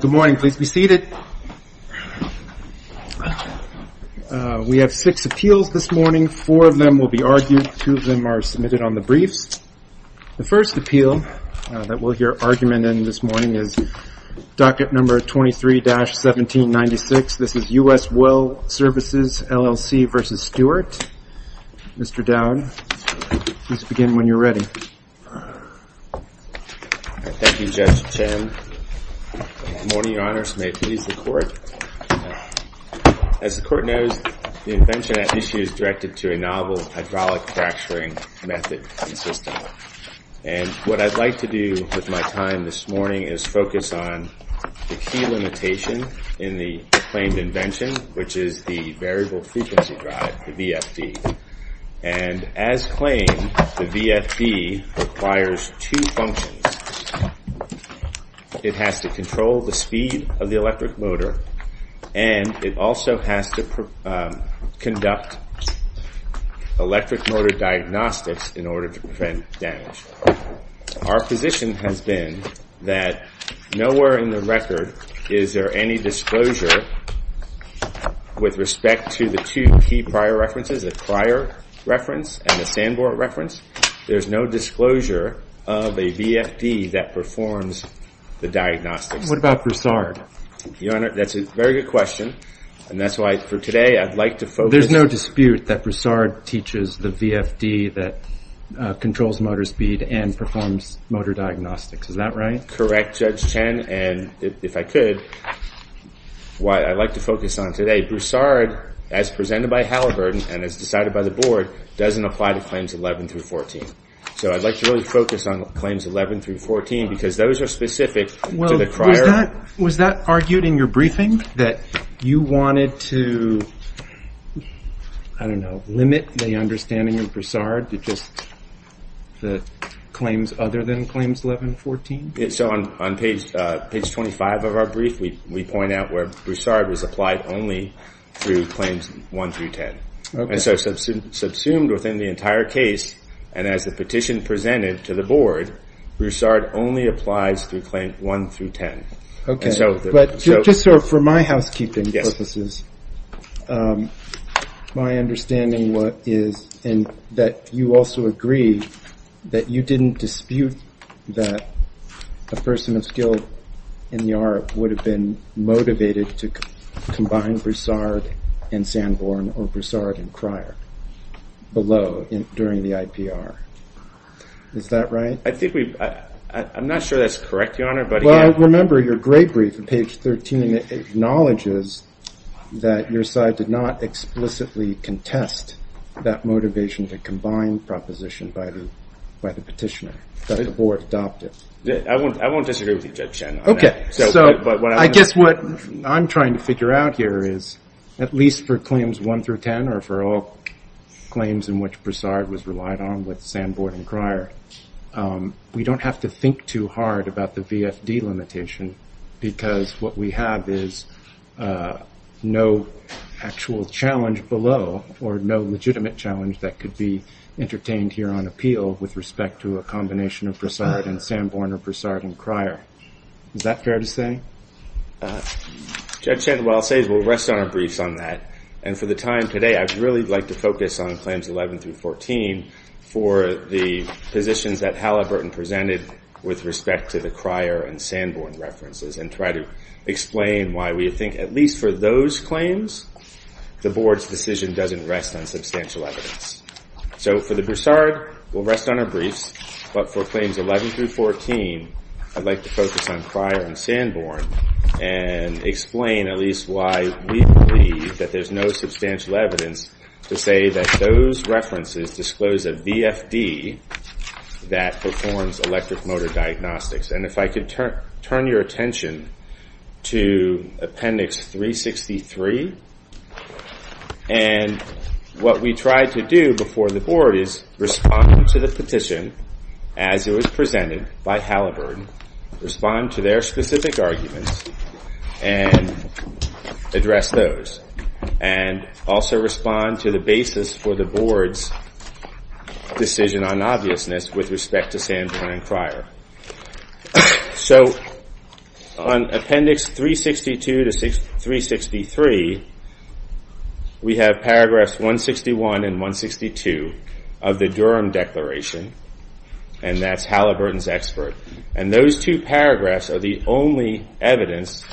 Good morning. Please be seated. We have six appeals this morning. Four of them will be argued. Two of them are submitted on the briefs. The first appeal that will hear argument in this morning is docket number 23-1796. This is U.S. Well Services, LLC v. Stewart. Mr. Dowd, please begin when you're ready. Thank you, Judge Chen. Good morning, Your Honors. May it please the Court. As the Court knows, the invention at issue is directed to a novel hydraulic fracturing method and system. And what I'd like to do with my time this morning is focus on the key limitation in the claimed invention, which is the variable frequency drive, the VFD. And as claimed, the VFD requires two functions. It has to control the speed of the electric motor and it also has to conduct electric motor diagnostics in order to prevent damage. Our position has been that nowhere in the record is there any disclosure with respect to the two key prior references, the prior reference and the Sanborn reference. There's no disclosure of a VFD that performs the diagnostics. What about Broussard? Your Honor, that's a very good question. And that's why for today, I'd like to focus... There's no dispute that Broussard teaches the VFD that controls motor speed and performs motor diagnostics. Is that right? Correct, Judge Chen. And if I could, what I'd like to focus on today, Broussard, as presented by Halliburton and as decided by the Board, doesn't apply to Claims 11 through 14. So I'd like to really focus on Claims 11 through 14 because those are specific to the prior... Well, was that argued in your briefing that you wanted to, I don't know, limit the understanding of Broussard to just the claims other than Claims 11 through 14? So on page 25 of our brief, we point out where Broussard was applied only through Claims 1 through 10. And so subsumed within the entire case, and as the petition presented to the Board, Broussard only applies through Claims 1 through 10. Okay, but just so for my housekeeping purposes, my understanding is that you also agree that you didn't dispute that a person of skill in the ARP would have been motivated to combine Broussard and Sanborn or Broussard and Cryer below during the IPR. Is that right? I think we... I'm not sure that's correct, Your Honor, but... Well, remember, your gray brief on page 13 acknowledges that your side did not explicitly contest that motivation to combine proposition by the petitioner, that the Board adopted. I won't disagree with you, Judge Chen. Okay, so I guess what I'm trying to figure out here is, at least for Claims 1 through 10 or for all claims in which Broussard was relied on with Sanborn and Cryer, we don't have to think too hard about the VFD limitation because what we have is no actual challenge below or no legitimate challenge that could be entertained here on appeal with respect to a combination of Broussard and Sanborn or Broussard and Cryer. Is that fair to say? Judge Chen, what I'll say is we'll rest on our briefs on that. And for the time today, I'd really like to focus on Claims 11 through 14 for the positions that Halliburton presented with respect to the Cryer and Sanborn references and try to explain why we think, at least for those claims, the Board's decision doesn't rest on substantial evidence. So for the Broussard, we'll rest on our briefs. But for Claims 11 through 14, I'd like to focus on Cryer and Sanborn and explain at least why we believe that there's no substantial evidence to say that those references disclose a VFD that performs electric motor diagnostics. And if I could turn your attention to Appendix 363, and what we tried to do before the Board is respond to the petition as it was presented by Halliburton, respond to their specific arguments and address those. And also respond to the basis for the Board's decision on obviousness with respect to Sanborn and Cryer. So on Appendix 362 to 363, we have paragraphs 161 and 162 of the Durham Declaration, and that's Halliburton's expert. And those two paragraphs are the only evidence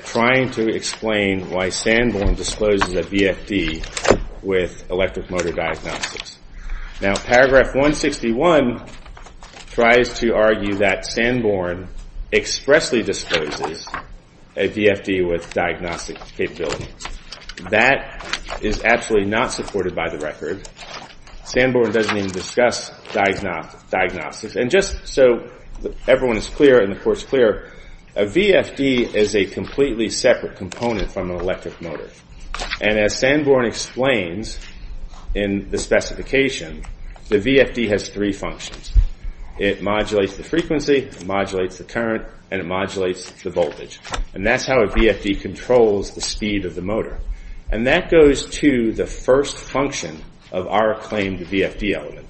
trying to explain why Sanborn discloses a VFD with electric motor diagnostics. Now, paragraph 161 tries to argue that Sanborn expressly discloses a VFD with diagnostic capability. That is absolutely not supported by the record. Sanborn doesn't even discuss diagnostics. And just so everyone is clear and the Court's clear, a VFD is a completely separate component from an electric motor. And as Sanborn explains in the specification, the VFD has three functions. It modulates the frequency, it modulates the current, and it modulates the voltage. And that's how a VFD controls the speed of the motor. And that goes to the first function of our claimed VFD element.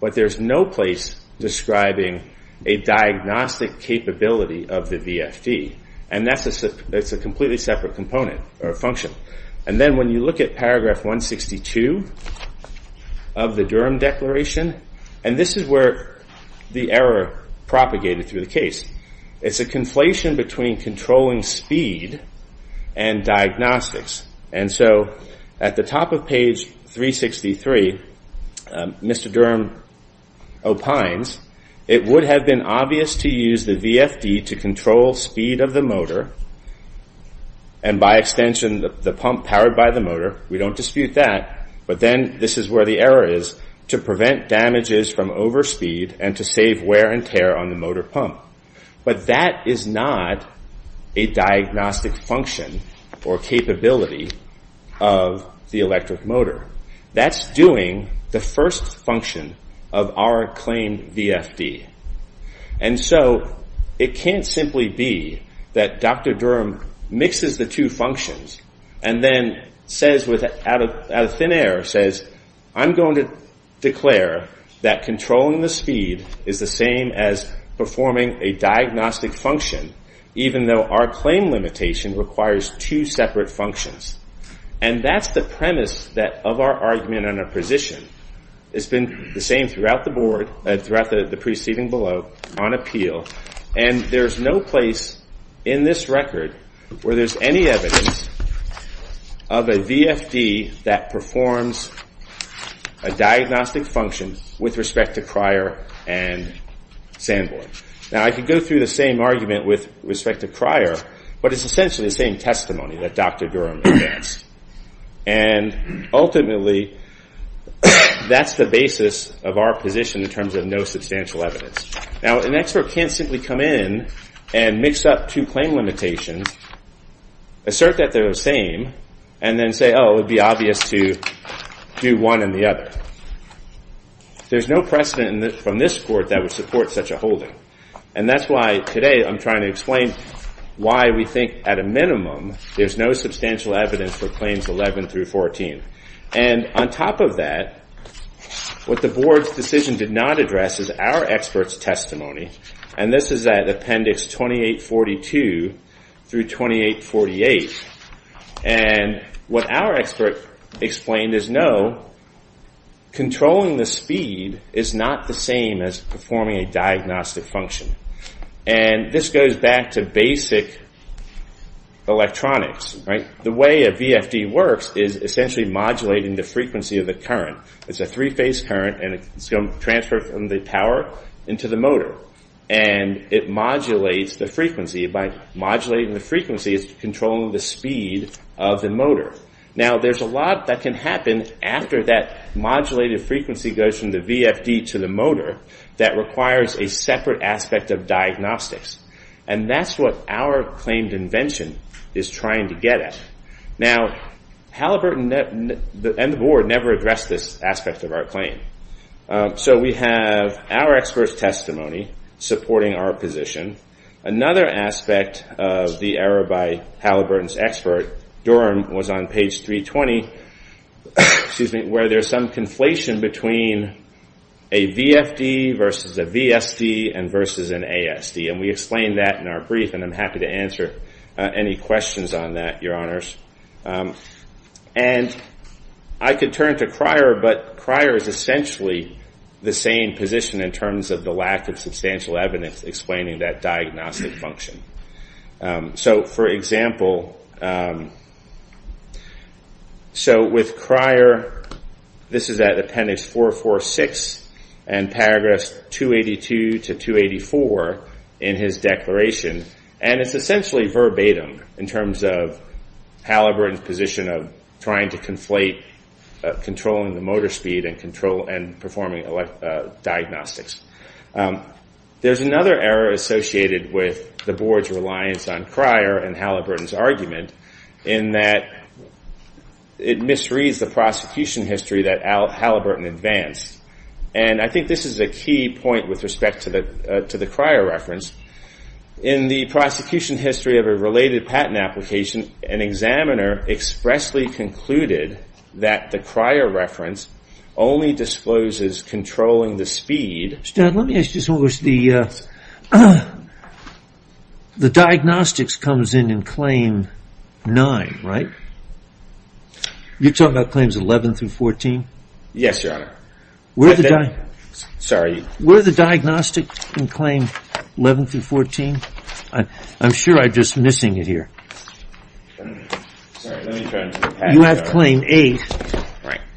But there's no place describing a diagnostic capability of the VFD. And that's a completely separate component or function. And then when you look at paragraph 162 of the Durham Declaration, and this is where the error propagated through the case. It's a conflation between controlling speed and diagnostics. And so at the top of page 363, Mr. Durham opines, it would have been obvious to use the VFD to control speed of the motor, and by extension, the pump powered by the motor. We don't dispute that. But then this is where the error is, to prevent damages from overspeed and to save wear and tear on the motor pump. But that is not a diagnostic function or capability of the electric motor. That's doing the first function of our claimed VFD. And so it can't simply be that Dr. Durham mixes the two functions and then says, out of thin air, I'm going to declare that controlling the speed is the same as performing a diagnostic function, even though our claim limitation requires two separate functions. And that's the premise of our argument and our position. It's been the same throughout the board, throughout the proceeding below, on appeal. And there's no place in this record where there's any evidence of a VFD that performs a diagnostic function with respect to Cryer and Sanborn. Now, I could go through the same argument with respect to Cryer, but it's essentially the same testimony that Dr. Durham advanced. And ultimately, that's the basis of our position in terms of no substantial evidence. Now, an expert can't simply come in and mix up two claim limitations, assert that they're the same, and then say, oh, it would be obvious to do one and the other. There's no precedent from this court that would support such a holding. And that's why today I'm trying to explain why we think, at a minimum, there's no substantial evidence for claims 11 through 14. And on top of that, what the board's decision did not address is our expert's testimony. And this is at Appendix 2842 through 2848. And what our expert explained is, no, controlling the speed is not the same as performing a diagnostic function. And this goes back to basic electronics, right? The way a VFD works is essentially modulating the frequency of the current. It's a three-phase current, and it's going to transfer from the power into the motor. And it modulates the frequency. By modulating the frequency, it's controlling the speed of the motor. Now, there's a lot that can happen after that modulated frequency goes from the VFD to the motor that requires a separate aspect of diagnostics. And that's what our claimed invention is trying to get at. Now, Halliburton and the board never addressed this aspect of our claim. So we have our expert's testimony supporting our position. Another aspect of the error by Halliburton's expert, Durham, was on page 320, where there's some conflation between a VFD versus a VSD and versus an ASD. And we explained that in our brief. And I'm happy to answer any questions on that, Your Honors. And I could turn to Cryer, but Cryer is essentially the same position in terms of the lack of substantial evidence explaining that diagnostic function. So for example, so with Cryer, this is at appendix 446 and paragraphs 282 to 284, in his declaration. And it's essentially verbatim in terms of Halliburton's position of trying to conflate controlling the motor speed and performing diagnostics. There's another error associated with the board's reliance on Cryer and Halliburton's argument in that it misreads the prosecution history that Halliburton advanced. And I think this is a key point with respect to the Cryer reference. In the prosecution history of a related patent application, an examiner expressly concluded that the Cryer reference only discloses controlling the speed. Mr. Dunn, let me ask you something. The diagnostics comes in in claim 9, right? You're talking about claims 11 through 14? Yes, Your Honor. Were the diagnostics in claim 11 through 14? I'm sure I'm just missing it here. You have claim 8,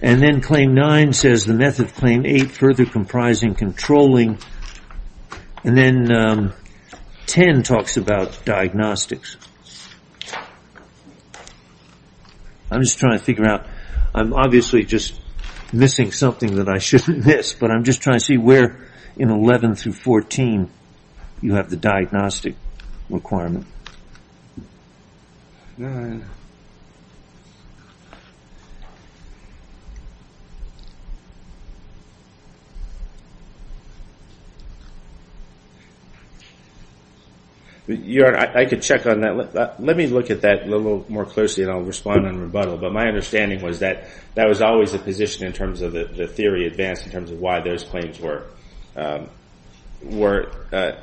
and then claim 9 says the method of claim 8 further comprising controlling. And then 10 talks about diagnostics. I'm just trying to figure out. I'm obviously just missing something that I shouldn't miss, but I'm just trying to see where in 11 through 14 you have the diagnostic requirement. Your Honor, I could check on that. Let me look at that a little more closely, and I'll respond in rebuttal. But my understanding was that that was always the position in terms of the theory advanced in terms of why those claims were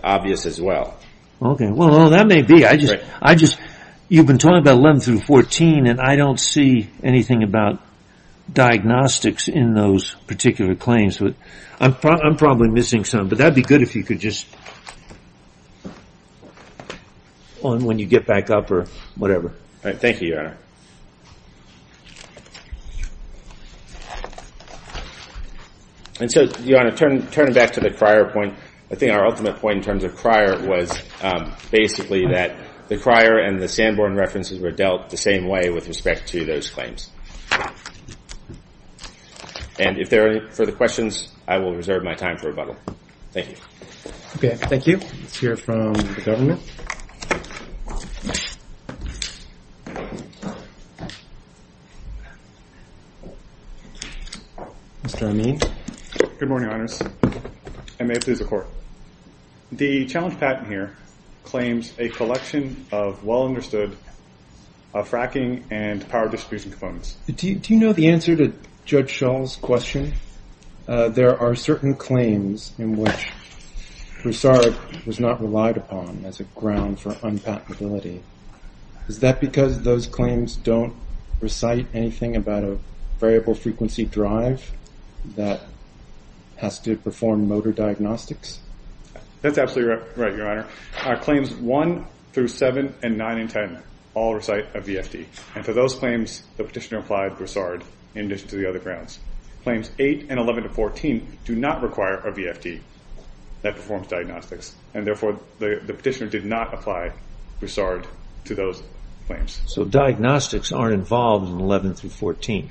obvious as well. Okay. Well, that may be. You've been talking about 11 through 14, and I don't see anything about diagnostics in those particular claims. I'm probably missing some, but that'd be good if you could just... when you get back up or whatever. Thank you, Your Honor. And so, Your Honor, turning back to the Crier point, I think our ultimate point in terms of Crier was basically that the Crier and the Sanborn references were dealt the same way with respect to those claims. And if there are any further questions, I will reserve my time for rebuttal. Thank you. Okay. Thank you. Let's hear from the government. Mr. Amin. Good morning, Your Honors, and may it please the Court. The challenge patent here claims a collection of well-understood fracking and power distribution components. Do you know the answer to Judge Shull's question? There are certain claims in which Broussard was not relied upon as a ground for unpatentability. Is that because those claims don't recite the patent? Anything about a variable frequency drive that has to perform motor diagnostics? That's absolutely right, Your Honor. Claims 1 through 7 and 9 and 10 all recite a VFD. And for those claims, the petitioner applied Broussard in addition to the other grounds. Claims 8 and 11 to 14 do not require a VFD that performs diagnostics. And therefore, the petitioner did not apply Broussard to those claims. So diagnostics aren't involved in 11 through 14?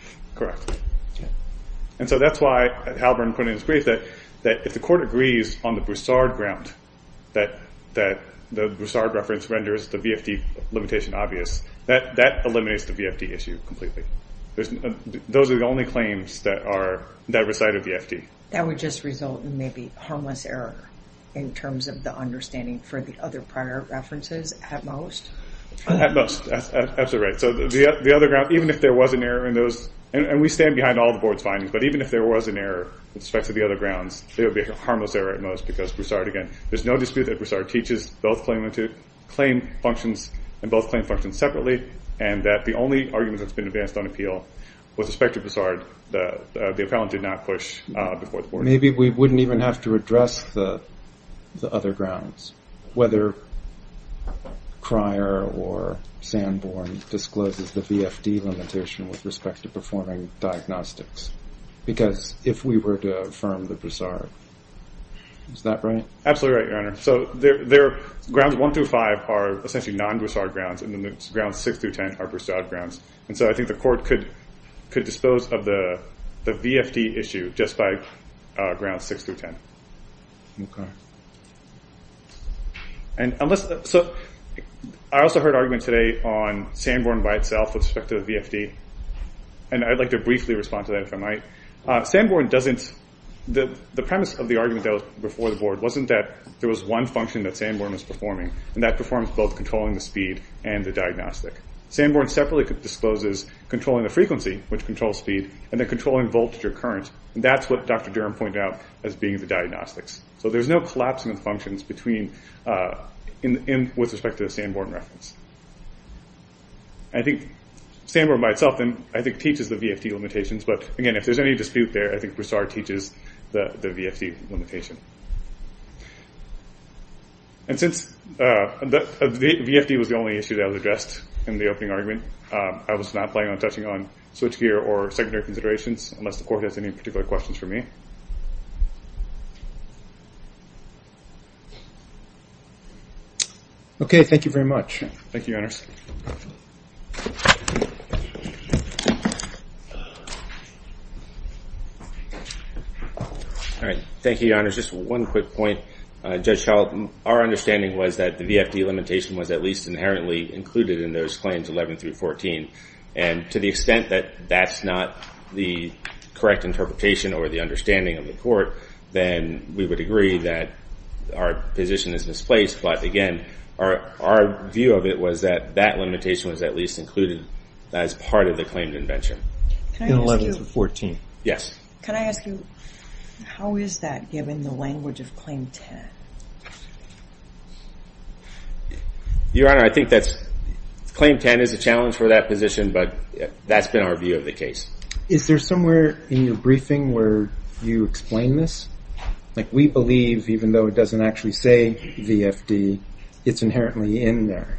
And so that's why Halburn put in his brief that if the Court agrees on the Broussard ground that the Broussard reference renders the VFD limitation obvious, that eliminates the VFD issue completely. Those are the only claims that recite a VFD. That would just result in maybe harmless error in terms of the understanding for the other prior references at most? At most, that's absolutely right. So the other ground, even if there was an error in those, and we stand behind all the Board's findings, but even if there was an error with respect to the other grounds, there would be a harmless error at most because Broussard, again, there's no dispute that Broussard teaches both claim functions separately and that the only argument that's been advanced on appeal with respect to Broussard, the appellant did not push before the Board. Maybe we wouldn't even have to address the other grounds, whether Cryer or Sanborn discloses the VFD limitation with respect to performing diagnostics, because if we were to affirm the Broussard, is that right? Absolutely right, Your Honor. So grounds one through five are essentially non-Broussard grounds, and then grounds six through ten are Broussard grounds. And so I think the Court could dispose of the VFD issue just by grounds six through ten. Okay. So I also heard arguments today on Sanborn by itself with respect to the VFD, and I'd like to briefly respond to that if I might. Sanborn doesn't... The premise of the argument that was before the Board wasn't that there was one function that Sanborn was performing, and that performs both controlling the speed and the diagnostic. Sanborn separately discloses controlling the frequency, which controls speed, and then controlling voltage or current, and that's what Dr. Durham pointed out as being the diagnostics. So there's no collapse in the functions with respect to the Sanborn reference. I think Sanborn by itself, I think, teaches the VFD limitations, but again, if there's any dispute there, I think Broussard teaches the VFD limitation. And since the VFD was the only issue that was addressed in the opening argument, I was not planning on touching on switchgear or secondary considerations, unless the Court has any particular questions for me. Okay, thank you very much. Thank you, Your Honors. All right. Thank you, Your Honors. Just one quick point. Judge Schall, our understanding was that the VFD limitation was at least inherently included in those claims 11 through 14, and to the extent that that's not the correct interpretation or the understanding of the Court, then we would agree that our position is misplaced. But again, our view of it was that that limitation was at least included as part of the claimed invention. In 11 through 14? Yes. Can I ask you, how is that given the language of Claim 10? Your Honor, I think that's—Claim 10 is a challenge for that position, but that's been our view of the case. Is there somewhere in your briefing where you explain this? We believe, even though it doesn't actually say VFD, it's inherently in there.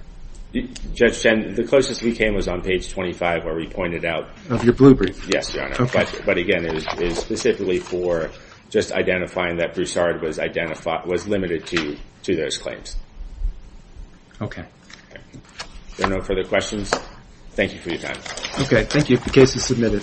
Judge Chen, the closest we came was on page 25, where we pointed out— Of your blue brief? Yes, Your Honor. Okay. But again, it is specifically for just identifying that Broussard was the only limited to those claims. There are no further questions. Thank you for your time. Okay, thank you. The case is submitted.